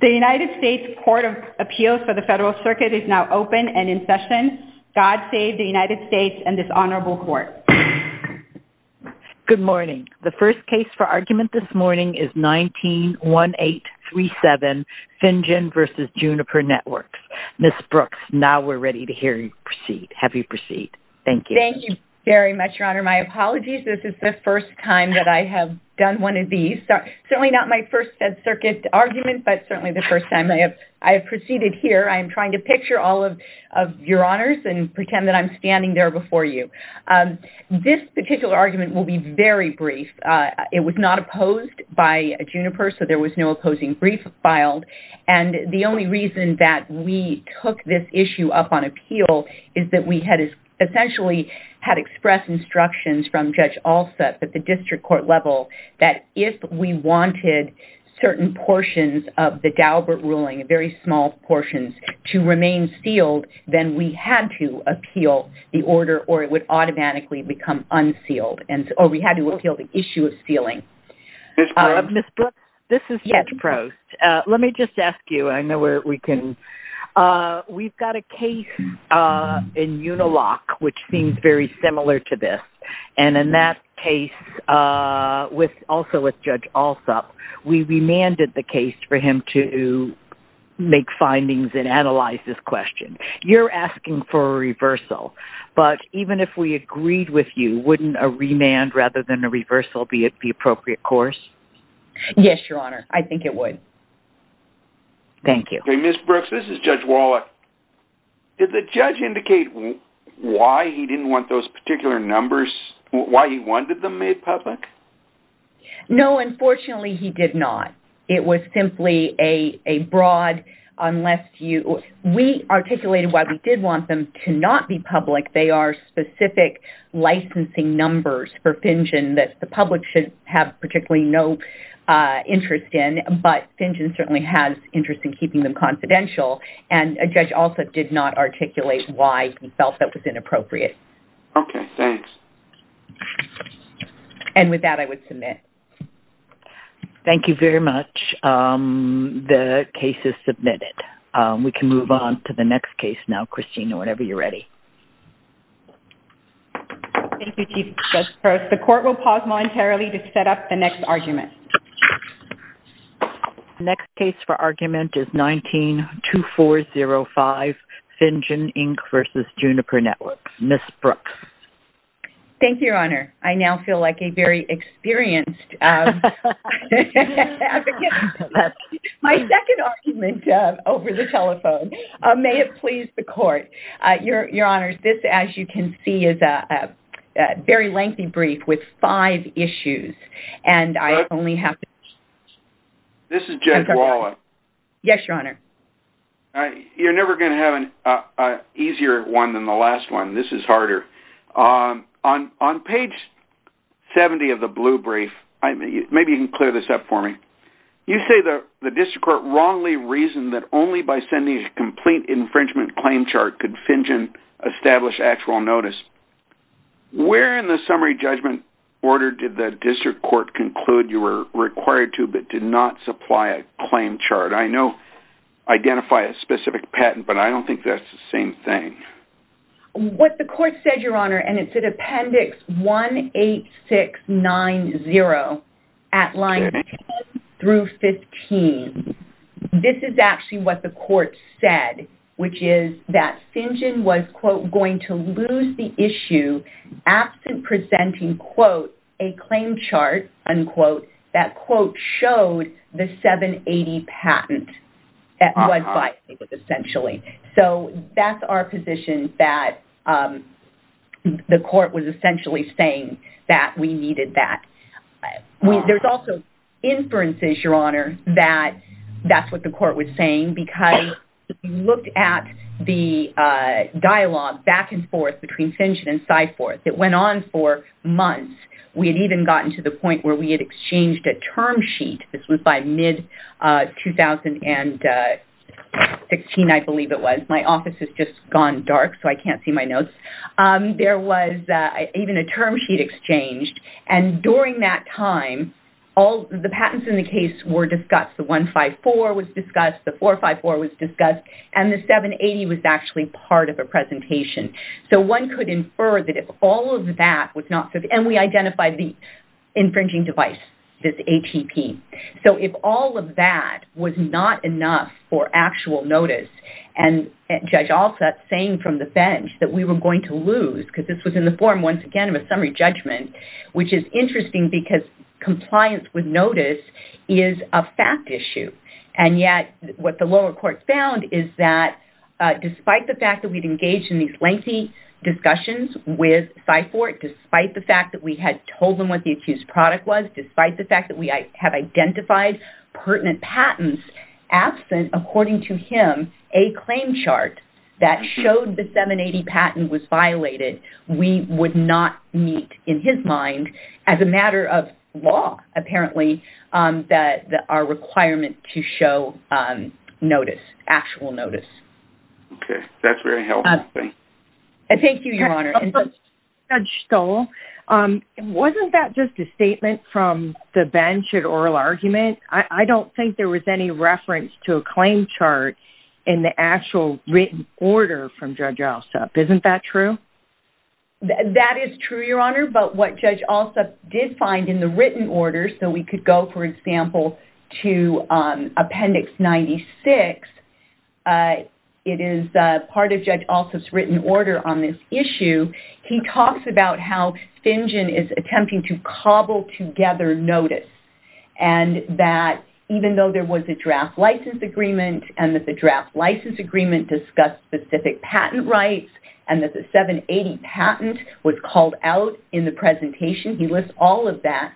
The United States Court of Appeals for the Federal Circuit is now open and in session. God save the United States and this honorable court. Good morning. The first case for argument this morning is 19-1837, Finjan v. Juniper Networks. Ms. Brooks, now we're ready to hear you proceed. Have you proceed. Thank you. Thank you very much, Your Honor. For my apologies, this is the first time that I have done one of these, certainly not my first circuit argument, but certainly the first time I have proceeded here. I am trying to picture all of your honors and pretend that I'm standing there before you. This particular argument will be very brief. It was not opposed by Juniper, so there was no opposing brief filed. And the only reason that we took this issue up on appeal is that we had essentially had to express instructions from Judge Alsup at the district court level that if we wanted certain portions of the Daubert ruling, very small portions, to remain sealed, then we had to appeal the order or it would automatically become unsealed, or we had to appeal the issue of sealing. Ms. Brooks, this is Judge Prost. Let me just ask you, I know where we can... We've got a case in Uniloc, which seems very similar to this. And in that case, also with Judge Alsup, we remanded the case for him to make findings and analyze this question. You're asking for a reversal, but even if we agreed with you, wouldn't a remand rather than a reversal be at the appropriate course? Yes, Your Honor. I think it would. Thank you. Okay, Ms. Brooks, this is Judge Wallach. Did the judge indicate why he didn't want those particular numbers, why he wanted them made public? No, unfortunately, he did not. It was simply a broad, unless you... We articulated why we did want them to not be public. They are specific licensing numbers for Finjen that the public should have particularly no interest in, but Finjen certainly has interest in keeping them confidential. And Judge Alsup did not articulate why he felt that was inappropriate. Okay, thanks. And with that, I would submit. Thank you very much. The case is submitted. We can move on to the next case now, Christina, whenever you're ready. Thank you, Chief Judge Prost. The court will pause momentarily to set up the next argument. Next case for argument is 19-2405, Finjen, Inc. v. Juniper Networks. Ms. Brooks. Thank you, Your Honor. I now feel like a very experienced advocate. My second argument over the telephone. May it please the court. Your Honor, this, as you can see, is a very lengthy brief with five issues. And I only have... This is Judge Walla. Yes, Your Honor. You're never going to have an easier one than the last one. This is harder. On page 70 of the blue brief, maybe you can clear this up for me. You say the district court wrongly reasoned that only by sending a complete infringement claim chart could Finjen establish actual notice. Where in the summary judgment order did the district court conclude you were required to but did not supply a claim chart? I know identify a specific patent, but I don't think that's the same thing. What the court said, Your Honor, and it's in Appendix 18690 at lines 10 through 15. This is actually what the court said, which is that Finjen was, quote, going to lose the issue absent presenting, quote, a claim chart, unquote, that, quote, showed the 780 patent that was essentially. So that's our position that the court was essentially saying that we needed that. There's also inferences, Your Honor, that that's what the court was saying because if you looked at the dialogue back and forth between Finjen and Syforth, it went on for months. We had even gotten to the point where we had exchanged a term sheet. This was by mid-2016, I believe it was. My office has just gone dark, so I can't see my notes. There was even a term sheet exchanged. And during that time, the patents in the case were discussed. The 154 was discussed. The 454 was discussed. And the 780 was actually part of a presentation. So one could infer that if all of that was not... And we identified the infringing device, this ATP. So if all of that was not enough for actual notice, and Judge Alsup saying from the bench that we were going to lose, because this was in the form, once again, of a summary judgment, which is interesting because compliance with notice is a fact issue. And yet what the lower court found is that despite the fact that we'd engaged in these lengthy discussions with Syforth, despite the fact that we had told them what the accused product was, despite the fact that we have identified pertinent patents absent, according to him, a claim chart that showed the 780 patent was violated, we would not meet in his mind, as a matter of law, apparently, our requirement to show notice, actual notice. Okay. That's very helpful. Thank you. Thank you, Your Honor. And Judge Stoll, wasn't that just a statement from the bench at oral argument? I don't think there was any reference to a claim chart in the actual written order from Judge Alsup. Isn't that true? That is true, Your Honor, but what Judge Alsup did find in the written order, so we could go, for example, to Appendix 96, it is part of Judge Alsup's written order on this issue. He talks about how Finjen is attempting to cobble together notice, and that even though there was a draft license agreement, and that the draft license agreement discussed specific patent rights, and that the 780 patent was called out in the presentation, he lists all of that.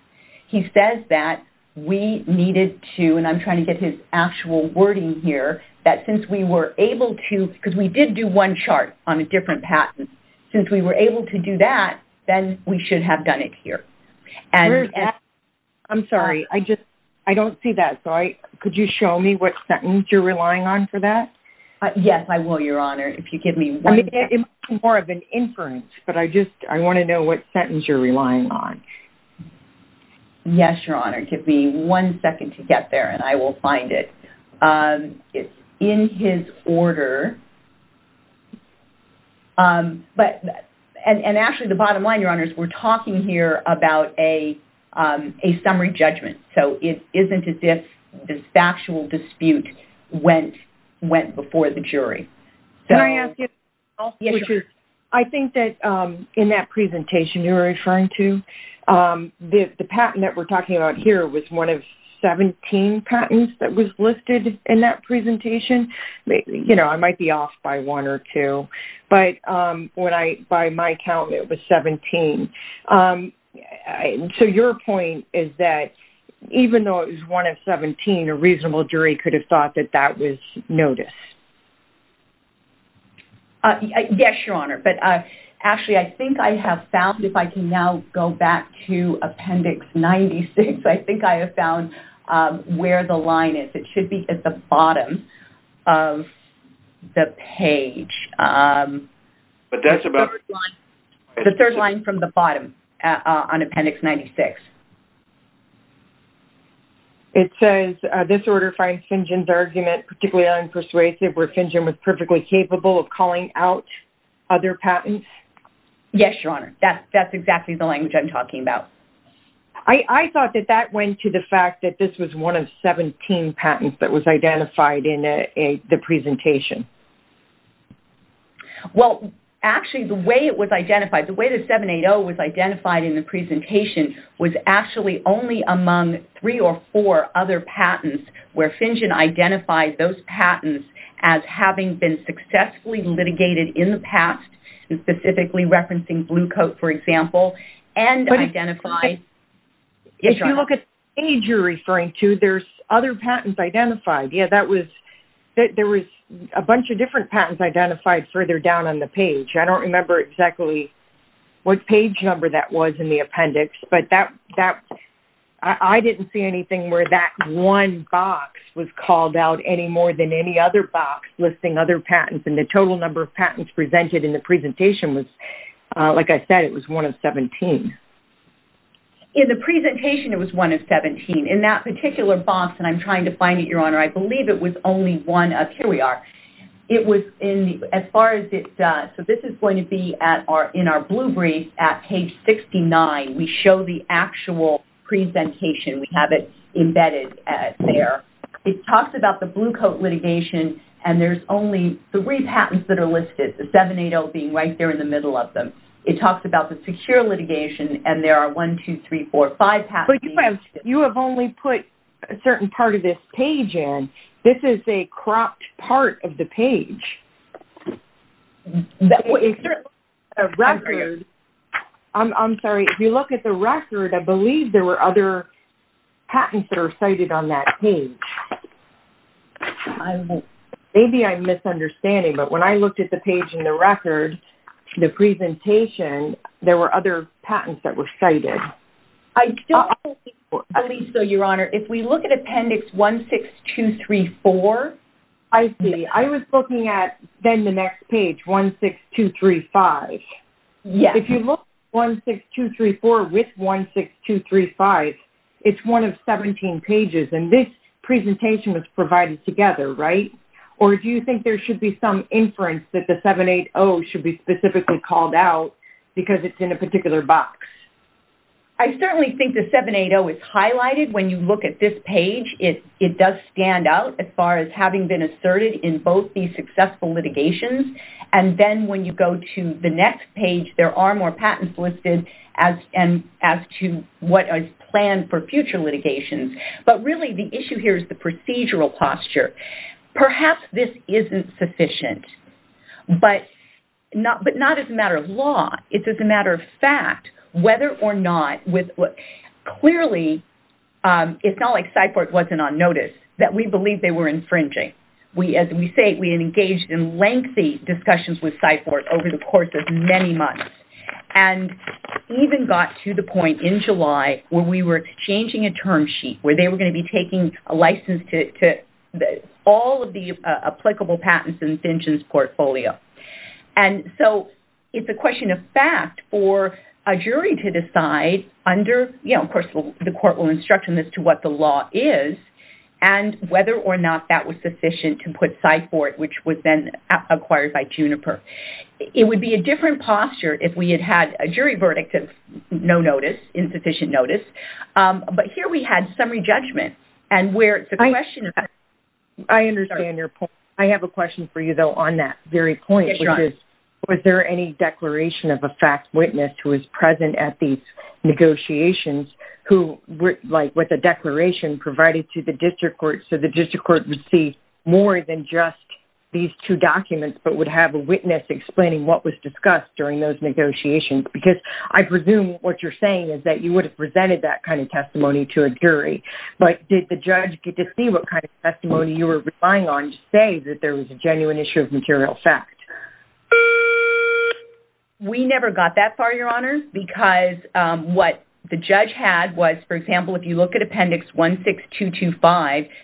He says that we needed to, and I'm trying to get his actual wording here, that since we were able to, because we did do one chart on a different patent, since we were able to do that, then we should have done it here. I'm sorry, I just, I don't see that, so could you show me what sentence you're relying on for that? Yes, I will, Your Honor. I mean, it's more of an inference, but I just, I want to know what sentence you're relying on. Yes, Your Honor, give me one second to get there, and I will find it. It's in his order, but, and actually, the bottom line, Your Honor, is we're talking here about a summary judgment, so it isn't as if this factual dispute went before the jury. Can I ask you something else? Yes, Your Honor. Which is, I think that in that presentation you were referring to, the patent that we're talking about here was one of 17 patents that was listed in that presentation. You know, I might be off by one or two, but when I, by my count, it was 17, so your point is that even though it was one of 17, a reasonable jury could have thought that that was noticed. Yes, Your Honor, but actually, I think I have found, if I can now go back to Appendix 96, I think I have found where the line is. It should be at the bottom of the page. But that's about- The third line from the bottom on Appendix 96. It says, this order finds Finjen's argument particularly unpersuasive, where Finjen was perfectly capable of calling out other patents. Yes, Your Honor, that's exactly the language I'm talking about. I thought that that went to the fact that this was one of 17 patents that was identified in the presentation. Well, actually, the way it was identified, the way the 780 was identified in the presentation was actually only among three or four other patents where Finjen identified those patents as having been successfully litigated in the past, specifically referencing Blue Coat, for example, and identified- But if you look at the page you're referring to, there's other patents identified. Yes, that was, there was a bunch of different patents identified further down on the page. I don't remember exactly what page number that was in the appendix, but I didn't see anything where that one box was called out any more than any other box listing other patents, and the total number of patents presented in the presentation was, like I said, it was one of 17. In the presentation, it was one of 17. In that particular box, and I'm trying to find it, Your Honor, I believe it was only one of- Here we are. It was in the, as far as it, so this is going to be in our blue brief at page 69. We show the actual presentation. We have it embedded there. It talks about the Blue Coat litigation, and there's only three patents that are listed, the 780 being right there in the middle of them. It talks about the secure litigation, and there are one, two, three, four, five patents- But you have only put a certain part of this page in. This is a cropped part of the page. That was true. I agree. I'm sorry. If you look at the record, I believe there were other patents that were cited on that page. I'm- Maybe I'm misunderstanding, but when I looked at the page in the record, the presentation, there were other patents that were cited. I don't believe so, Your Honor. If we look at Appendix 16234- I see. I was looking at then the next page, 16235. Yes. If you look at 16234 with 16235, it's one of 17 pages, and this presentation was provided together, right? Or do you think there should be some inference that the 780 should be specifically called out because it's in a particular box? I certainly think the 780 is highlighted. When you look at this page, it does stand out as far as having been asserted in both these successful litigations, and then when you go to the next page, there are more patents listed as to what is planned for future litigations. But really, the issue here is the procedural posture. Perhaps this isn't sufficient, but not as a matter of law. It's as a matter of fact, whether or not with what clearly, it's not like Cyport wasn't on notice, that we believe they were infringing. We as we say, we engaged in lengthy discussions with Cyport over the course of many months, and even got to the point in July where we were exchanging a term sheet, where they were going to be taking a license to all of the applicable patents in Finch's portfolio. And so, it's a question of fact for a jury to decide under, you know, of course the court will instruct them as to what the law is, and whether or not that was sufficient to put Cyport, which was then acquired by Juniper. It would be a different posture if we had had a jury verdict of no notice, insufficient notice, but here we had summary judgment, and where it's a question of fact. I understand your point. I have a question for you, though, on that very point, which is, was there any declaration of a fact witness who was present at these negotiations, who like with a declaration provided to the district court, so the district court would see more than just these two documents, but would have a witness explaining what was discussed during those negotiations? Because I presume what you're saying is that you would have presented that kind of testimony to a jury. But did the judge get to see what kind of testimony you were relying on to say that there was a genuine issue of material fact? We never got that far, Your Honor, because what the judge had was, for example, if you look at Appendix 16225,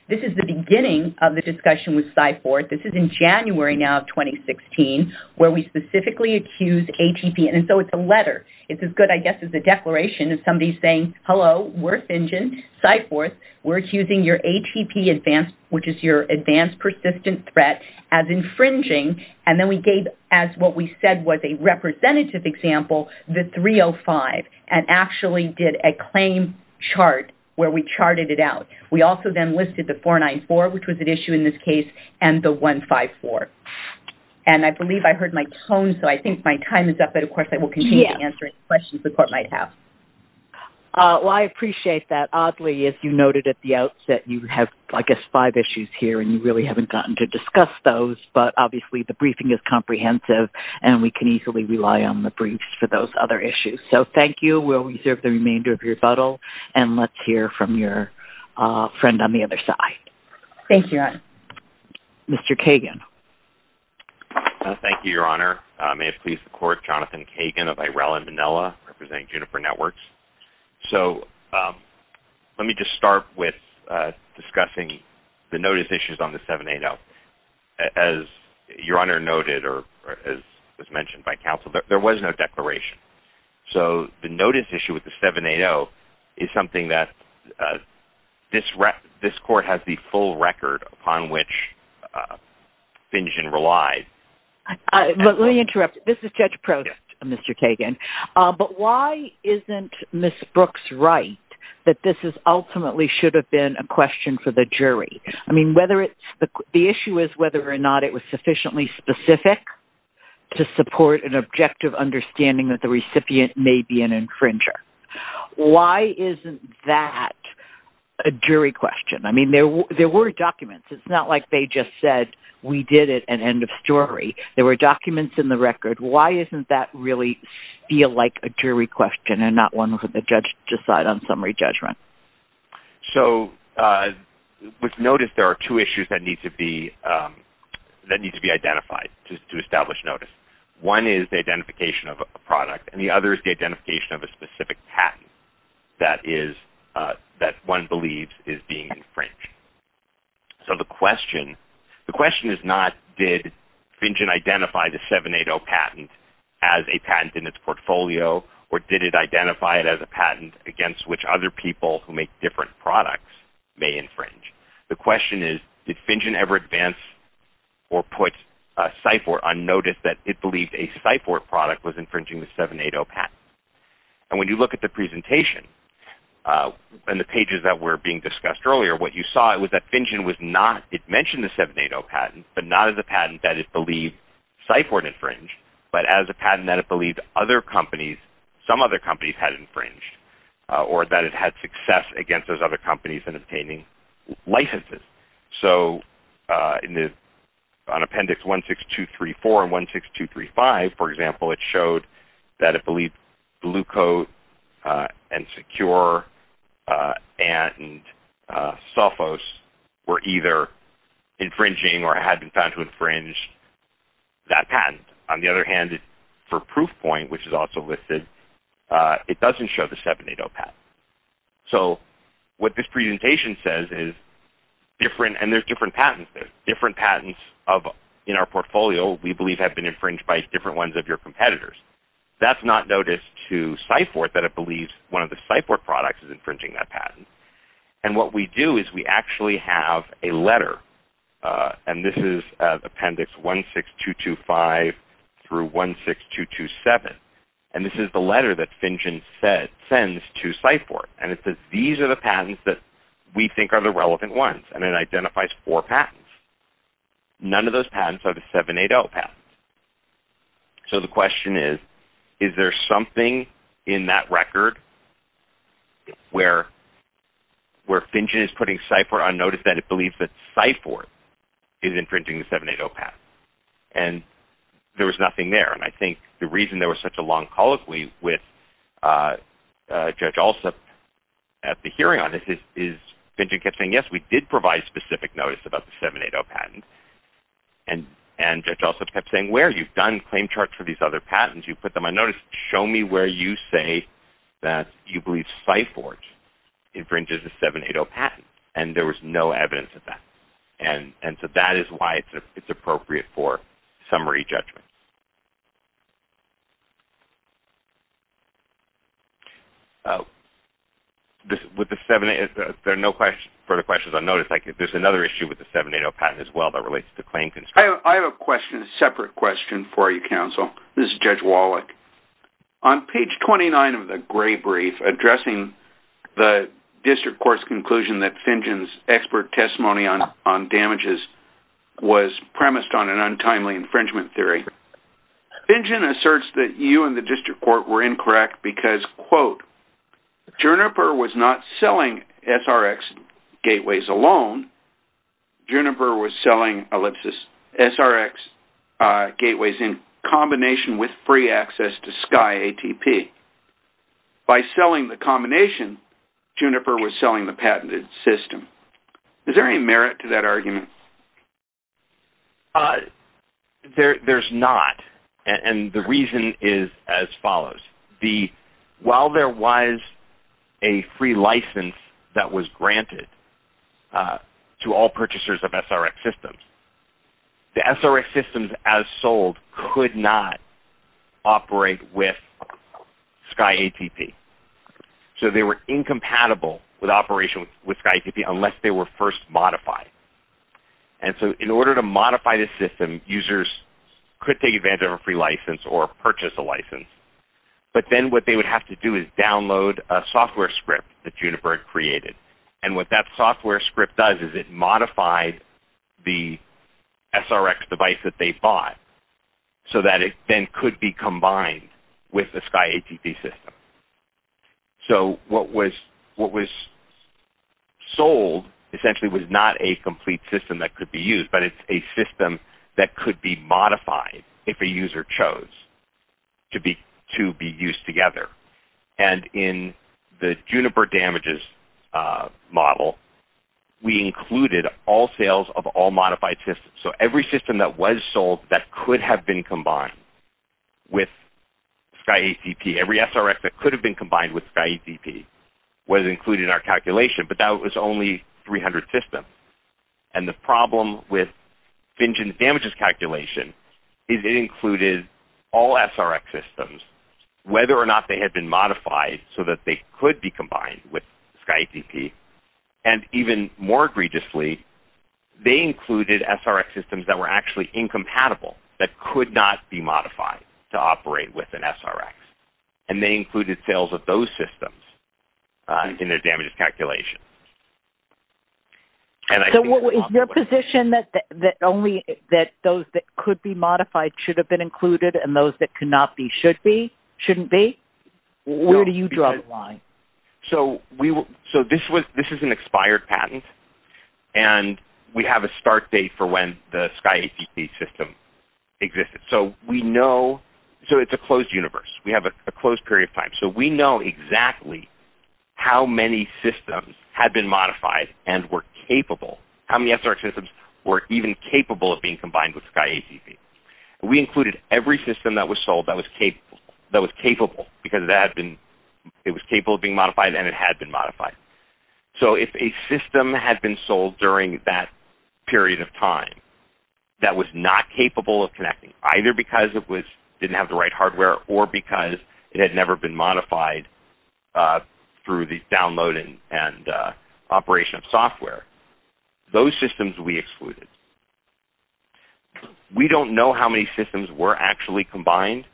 this is the beginning of the discussion with Cyport. This is in January now of 2016, where we specifically accused ATP. And so, it's a letter. It's as good, I guess, as a declaration of somebody saying, hello, we're Finch's, Cyport, we're accusing your ATP advance, which is your advanced persistent threat, as infringing. And then we gave, as what we said was a representative example, the 305, and actually did a claim chart where we charted it out. We also then listed the 494, which was at issue in this case, and the 154. And I believe I heard my tone, so I think my time is up. But of course, I will continue to answer any questions the court might have. Well, I appreciate that. Oddly, as you noted at the outset, you have, I guess, five issues here, and you really haven't gotten to discuss those. But obviously, the briefing is comprehensive, and we can easily rely on the briefs for those other issues. So, thank you. We'll reserve the remainder of your rebuttal. And let's hear from your friend on the other side. Thank you, Your Honor. Mr. Kagan. Thank you, Your Honor. May it please the Court, Jonathan Kagan of Irela, Manila, representing Juniper Networks. So, let me just start with discussing the notice issues on the 780. As Your Honor noted, or as was mentioned by counsel, there was no declaration. So, the notice issue with the 780 is something that this court has the full record upon which Finjian relied. But let me interrupt. This is Judge Prost, Mr. Kagan. But why isn't Ms. Brooks right that this ultimately should have been a question for the jury? I mean, whether it's—the issue is whether or not it was sufficiently specific to support an objective understanding that the recipient may be an infringer. Why isn't that a jury question? I mean, there were documents. It's not like they just said, we did it, and end of story. There were documents in the record. Why isn't that really feel like a jury question and not one for the judge to decide on summary judgment? So, with notice, there are two issues that need to be identified to establish notice. One is the identification of a product. And the other is the identification of a specific patent that one believes is being infringed. So, the question—the question is not, did Finjian identify the 780 patent as a patent in its portfolio, or did it identify it as a patent against which other people who make different products may infringe? The question is, did Finjian ever advance or put a CIFOR on notice that it believed a CIFOR product was infringing the 780 patent? And when you look at the presentation and the pages that were being discussed earlier, what you saw was that Finjian was not—it mentioned the 780 patent, but not as a patent that it believed CIFOR had infringed, but as a patent that it believed other companies, some other companies had infringed, or that it had success against those other companies in obtaining licenses. So, in the—on Appendix 16234 and 16235, for example, it showed that it believed Blue Cure and Sophos were either infringing or had been found to infringe that patent. On the other hand, for Proofpoint, which is also listed, it doesn't show the 780 patent. So, what this presentation says is different—and there's different patents. There's different patents of—in our portfolio, we believe have been infringed by different ones of your competitors. That's not noticed to CIFOR that it believes one of the CIFOR products is infringing that patent. And what we do is we actually have a letter, and this is Appendix 16225 through 16227, and this is the letter that Finjian sends to CIFOR, and it says, these are the patents that we think are the relevant ones, and it identifies four patents. None of those patents are the 780 patents. So, the question is, is there something in that record where Finjian is putting CIFOR on notice that it believes that CIFOR is infringing the 780 patent? And there was nothing there, and I think the reason there was such a long colloquy with Judge Alsup at the hearing on this is Finjian kept saying, yes, we did provide specific notice about the 780 patent, and Judge Alsup kept saying, where? You've done claim charts for these other patents. You put them on notice. Show me where you say that you believe CIFOR infringes the 780 patent, and there was no evidence of that, and so that is why it's appropriate for summary judgment. There are no further questions on notice. There's another issue with the 780 patent as well that relates to claim construction. I have a separate question for you, counsel. This is Judge Wallach. On page 29 of the gray brief addressing the district court's conclusion that Finjian's expert testimony on damages was premised on an untimely infringement theory, Finjian asserts that you and the district court were incorrect because, quote, Juniper was not selling SRX gateways alone. Juniper was selling SRX gateways in combination with free access to Sky ATP. By selling the combination, Juniper was selling the patented system. Is there any merit to that argument? There's not, and the reason is as follows. While there was a free license that was granted to all purchasers of SRX systems, the SRX systems as sold could not operate with Sky ATP. So they were incompatible with operation with Sky ATP unless they were first modified. And so in order to modify the system, users could take advantage of a free license or purchase a license. But then what they would have to do is download a software script that Juniper created. And what that software script does is it modified the SRX device that they bought so that it then could be combined with the Sky ATP system. So what was sold essentially was not a complete system that could be used, but it's a system that could be modified if a user chose to be used together. And in the Juniper damages model, we included all sales of all modified systems. So every system that was sold that could have been combined with Sky ATP, every SRX that could have been combined with Sky ATP was included in our calculation, but that was only 300 systems. And the problem with FinGen's damages calculation is it included all SRX systems, whether or not they had been modified so that they could be combined with Sky ATP. And even more egregiously, they included SRX systems that were actually incompatible, that could not be modified to operate with an SRX. And they included sales of those systems in their damages calculation. So is your position that only those that could be modified should have been included and those that could not be should be? Shouldn't be? Where do you draw the line? So this is an expired patent. And we have a start date for when the Sky ATP system existed. So we know, so it's a closed universe. We have a closed period of time. So we know exactly how many systems had been modified and were capable, how many SRX systems were even capable of being combined with Sky ATP. We included every system that was sold that was capable, because it was capable of being modified and it had been modified. So if a system had been sold during that period of time that was not capable of connecting, either because it didn't have the right hardware or because it had never been modified through the download and operation of software, those systems we excluded. We don't know how many systems were actually combined,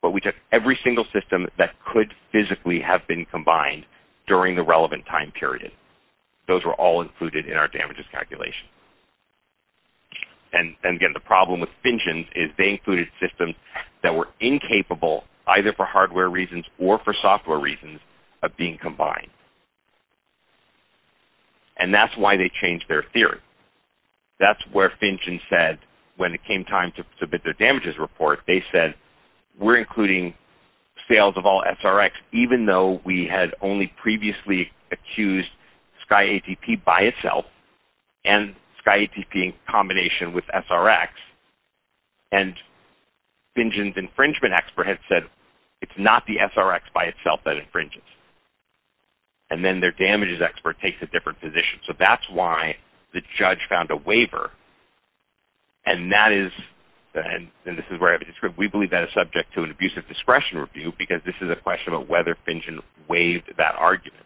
but we took every single system that could physically have been combined during the relevant time period. Those were all included in our damages calculation. And again, the problem with Finchins is they included systems that were incapable, either for hardware reasons or for software reasons, of being combined. And that's why they changed their theory. That's where Finchins said, when it came time to submit their damages report, they said, we're including sales of all SRX, even though we had only previously accused Sky ATP by itself and Sky ATP in combination with SRX. And Finchins' infringement expert had said, it's not the SRX by itself that infringes. And then their damages expert takes a different position. So that's why the judge found a waiver. And that is, and this is where we believe that is subject to an abusive discretion review, because this is a question of whether Finchins waived that argument.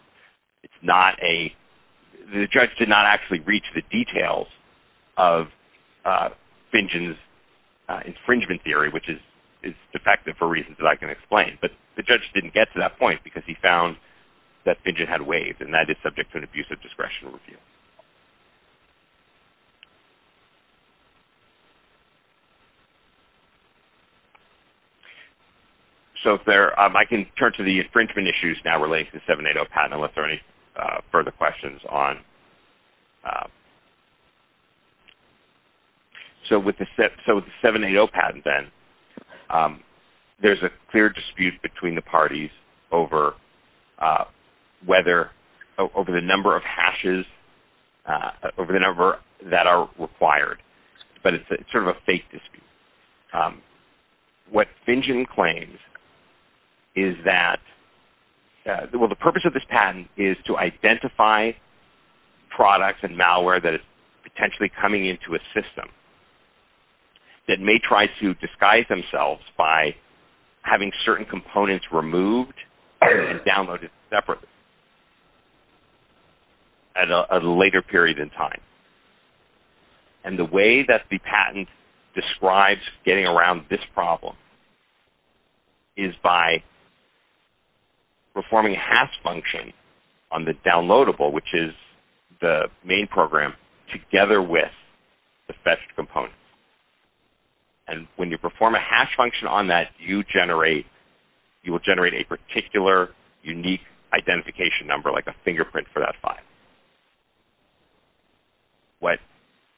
It's not a, the judge did not actually reach the details of Finchins' infringement theory, which is defective for reasons that I can explain. But the judge didn't get to that point because he found that Finchins had waived, and that is subject to an abusive discretion review. So if there, I can turn to the infringement issues now relating to the 780 patent, unless there are any further questions on. So with the 780 patent then, there's a clear dispute between the parties over whether, over the number of hashes that the parties have to deal with. Over the number that are required, but it's sort of a fake dispute. What Finchins claims is that, well, the purpose of this patent is to identify products and malware that is potentially coming into a system that may try to disguise themselves by having certain components removed and downloaded separately at a later period in time. And the way that the patent describes getting around this problem is by performing a hash function on the downloadable, which is the main program, together with the fetched components. And when you perform a hash function on that, you generate, you will generate a particular unique identification number, like a fingerprint for that file. What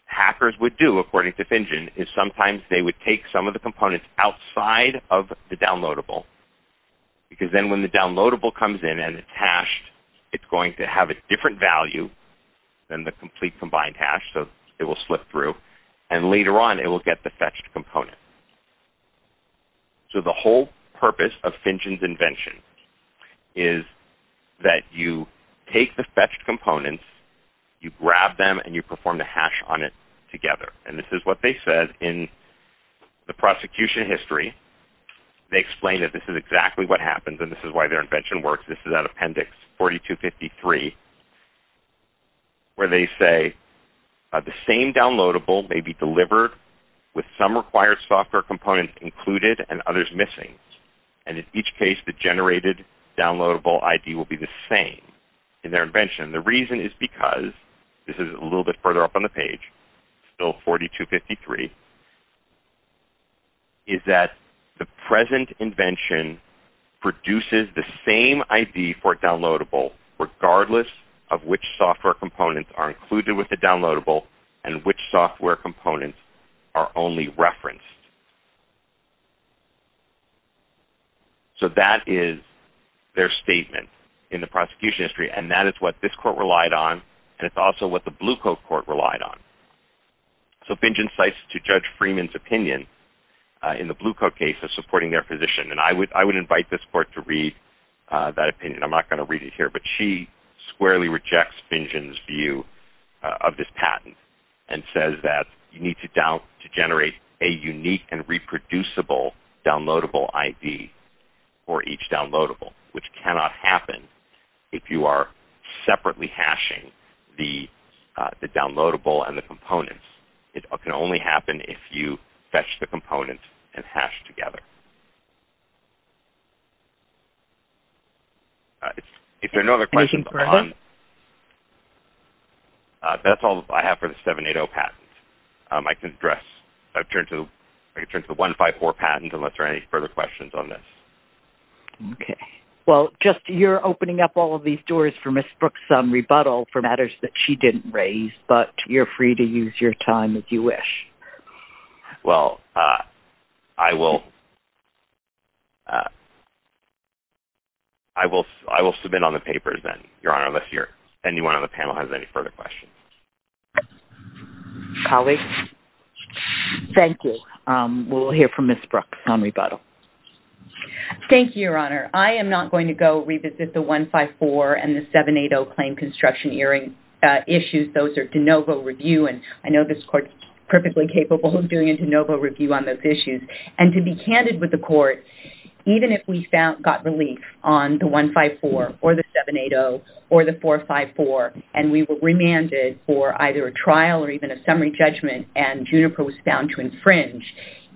hackers would do, according to Finchins, is sometimes they would take some of the components outside of the downloadable. Because then when the downloadable comes in and it's hashed, it's going to have a different value than the complete combined hash, so it will slip through. And later on, it will get the fetched component. So the whole purpose of Finchins' invention is that you take the fetched components, you grab them, and you perform the hash on it together. And this is what they said in the prosecution history. They explained that this is exactly what happens, and this is why their invention works. This is an appendix 4253, where they say the same downloadable may be delivered with some required software components included and others missing. And in each case, the generated downloadable ID will be the same in their invention. The reason is because, this is a little bit further up on the page, still 4253, is that the present invention produces the same ID for a downloadable, regardless of which software components are included with the downloadable and which software components are only referenced. So that is their statement in the prosecution history, and that is what this court relied on, and it's also what the Blue Coat Court relied on. So Finchins cites to Judge Freeman's opinion in the Blue Coat case of supporting their position. And I would invite this court to read that opinion. I'm not going to read it here, but she squarely rejects Finchins' view of this patent. And says that you need to generate a unique and reproducible downloadable ID for each downloadable, which cannot happen if you are separately hashing the downloadable and the components. It can only happen if you fetch the components and hash together. If there are no other questions, that's all I have for the 780 patent. I can address, I can turn to the 154 patent unless there are any further questions on this. Okay, well, just you're opening up all of these doors for Ms. Brooks' rebuttal for matters that she didn't raise, but you're free to use your time if you wish. Well, I will I will submit on the papers then, Your Honor, unless anyone on the panel has any further questions. Colleagues, thank you. We'll hear from Ms. Brooks on rebuttal. Thank you, Your Honor. I am not going to go revisit the 154 and the 780 claim construction issues. Those are de novo review. And I know this court is perfectly capable of doing a de novo review on those issues. And to be candid with the court, even if we got relief on the 154 or the 780 or the 454, and we were remanded for either a trial or even a summary judgment and Juniper was found to infringe,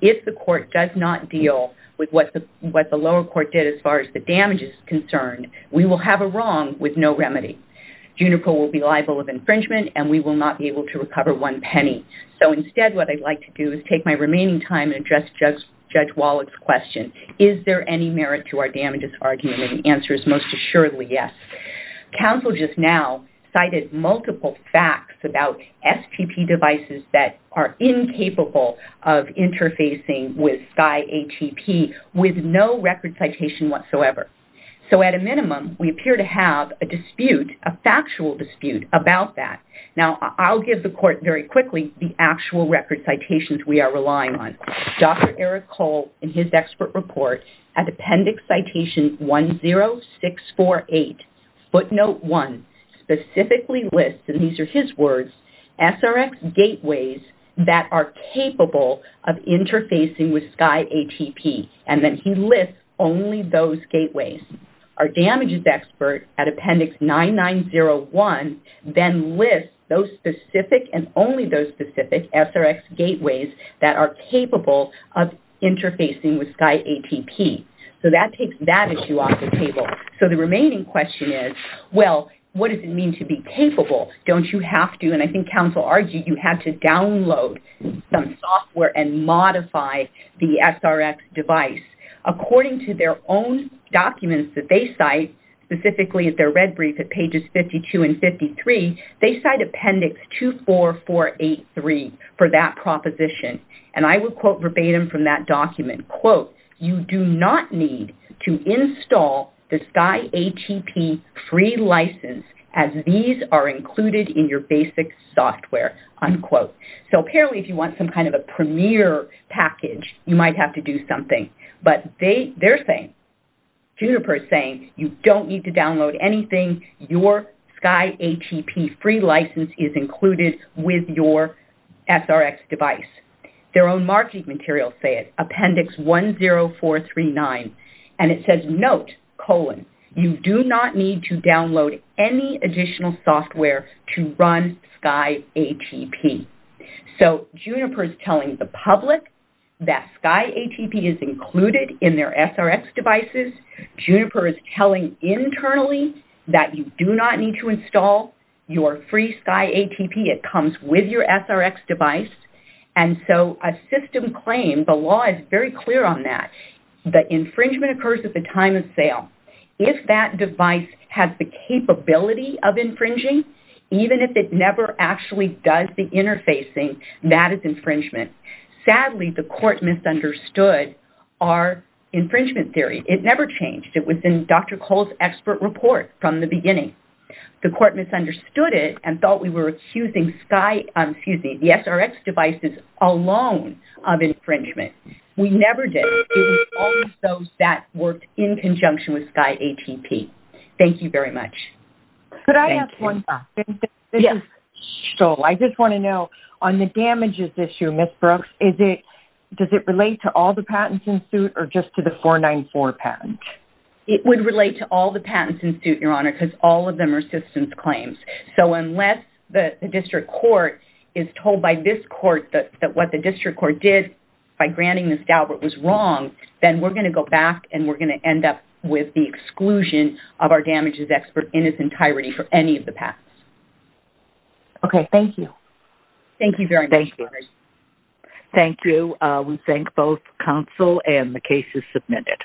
if the court does not deal with what the lower court did as far as the damage is concerned, we will have a wrong with no remedy. Juniper will be liable of infringement and we will not be able to recover one penny. So instead, what I'd like to do is take my remaining time and address Judge Wallach's question. Is there any merit to our damages argument? And the answer is most assuredly, yes. Counsel just now cited multiple facts about STP devices that are incapable of interfacing with SCI ATP with no record citation whatsoever. So at a minimum, we appear to have a dispute, a factual dispute about that. Now, I'll give the court very quickly the actual record citations we are relying on. Dr. Eric Cole, in his expert report, at appendix citation 10648, footnote one, specifically lists, and these are his words, SRX gateways that are capable of interfacing with SCI ATP. And then he lists only those gateways. Our damages expert at appendix 9901 then lists those specific and only those specific SRX gateways that are capable of interfacing with SCI ATP. So that takes that issue off the table. So the remaining question is, well, what does it mean to be capable? Don't you have to? And I think Counsel argued you had to download some software and modify the SRX device. According to their own documents that they cite, specifically at their red brief at pages 52 and 53, they cite appendix 24483 for that proposition. And I would quote verbatim from that document, quote, you do not need to install the SCI ATP free license as these are included in your basic software, unquote. So apparently, if you want some kind of a premier package, you might have to do something. But they're saying, Juniper is saying, you don't need to download anything. Your SCI ATP free license is included with your SRX device. Their own marketing materials say it, appendix 10439. And it says, note, colon, you do not need to download any additional software to run SCI ATP. So Juniper is telling the public that SCI ATP is included in their SRX devices. Juniper is telling internally that you do not need to install your free SCI ATP. It comes with your SRX device. And so a system claim, the law is very clear on that. The infringement occurs at the time of sale. If that device has the capability of infringing, even if it never actually does the interfacing, that is infringement. Sadly, the court misunderstood our infringement theory. It never changed. It was in Dr. Cole's expert report from the beginning. The court misunderstood it and thought we were accusing the SRX devices alone of infringement. We never did. All of those that worked in conjunction with SCI ATP. Thank you very much. Could I ask one question? I just want to know, on the damages issue, Ms. Brooks, does it relate to all the patents in suit or just to the 494 patent? It would relate to all the patents in suit, Your Honor, because all of them are systems claims. So unless the district court is told by this court that what the district court did by then we're going to go back and we're going to end up with the exclusion of our damages expert in its entirety for any of the patents. Okay, thank you. Thank you very much. Thank you. We thank both counsel and the cases submitted.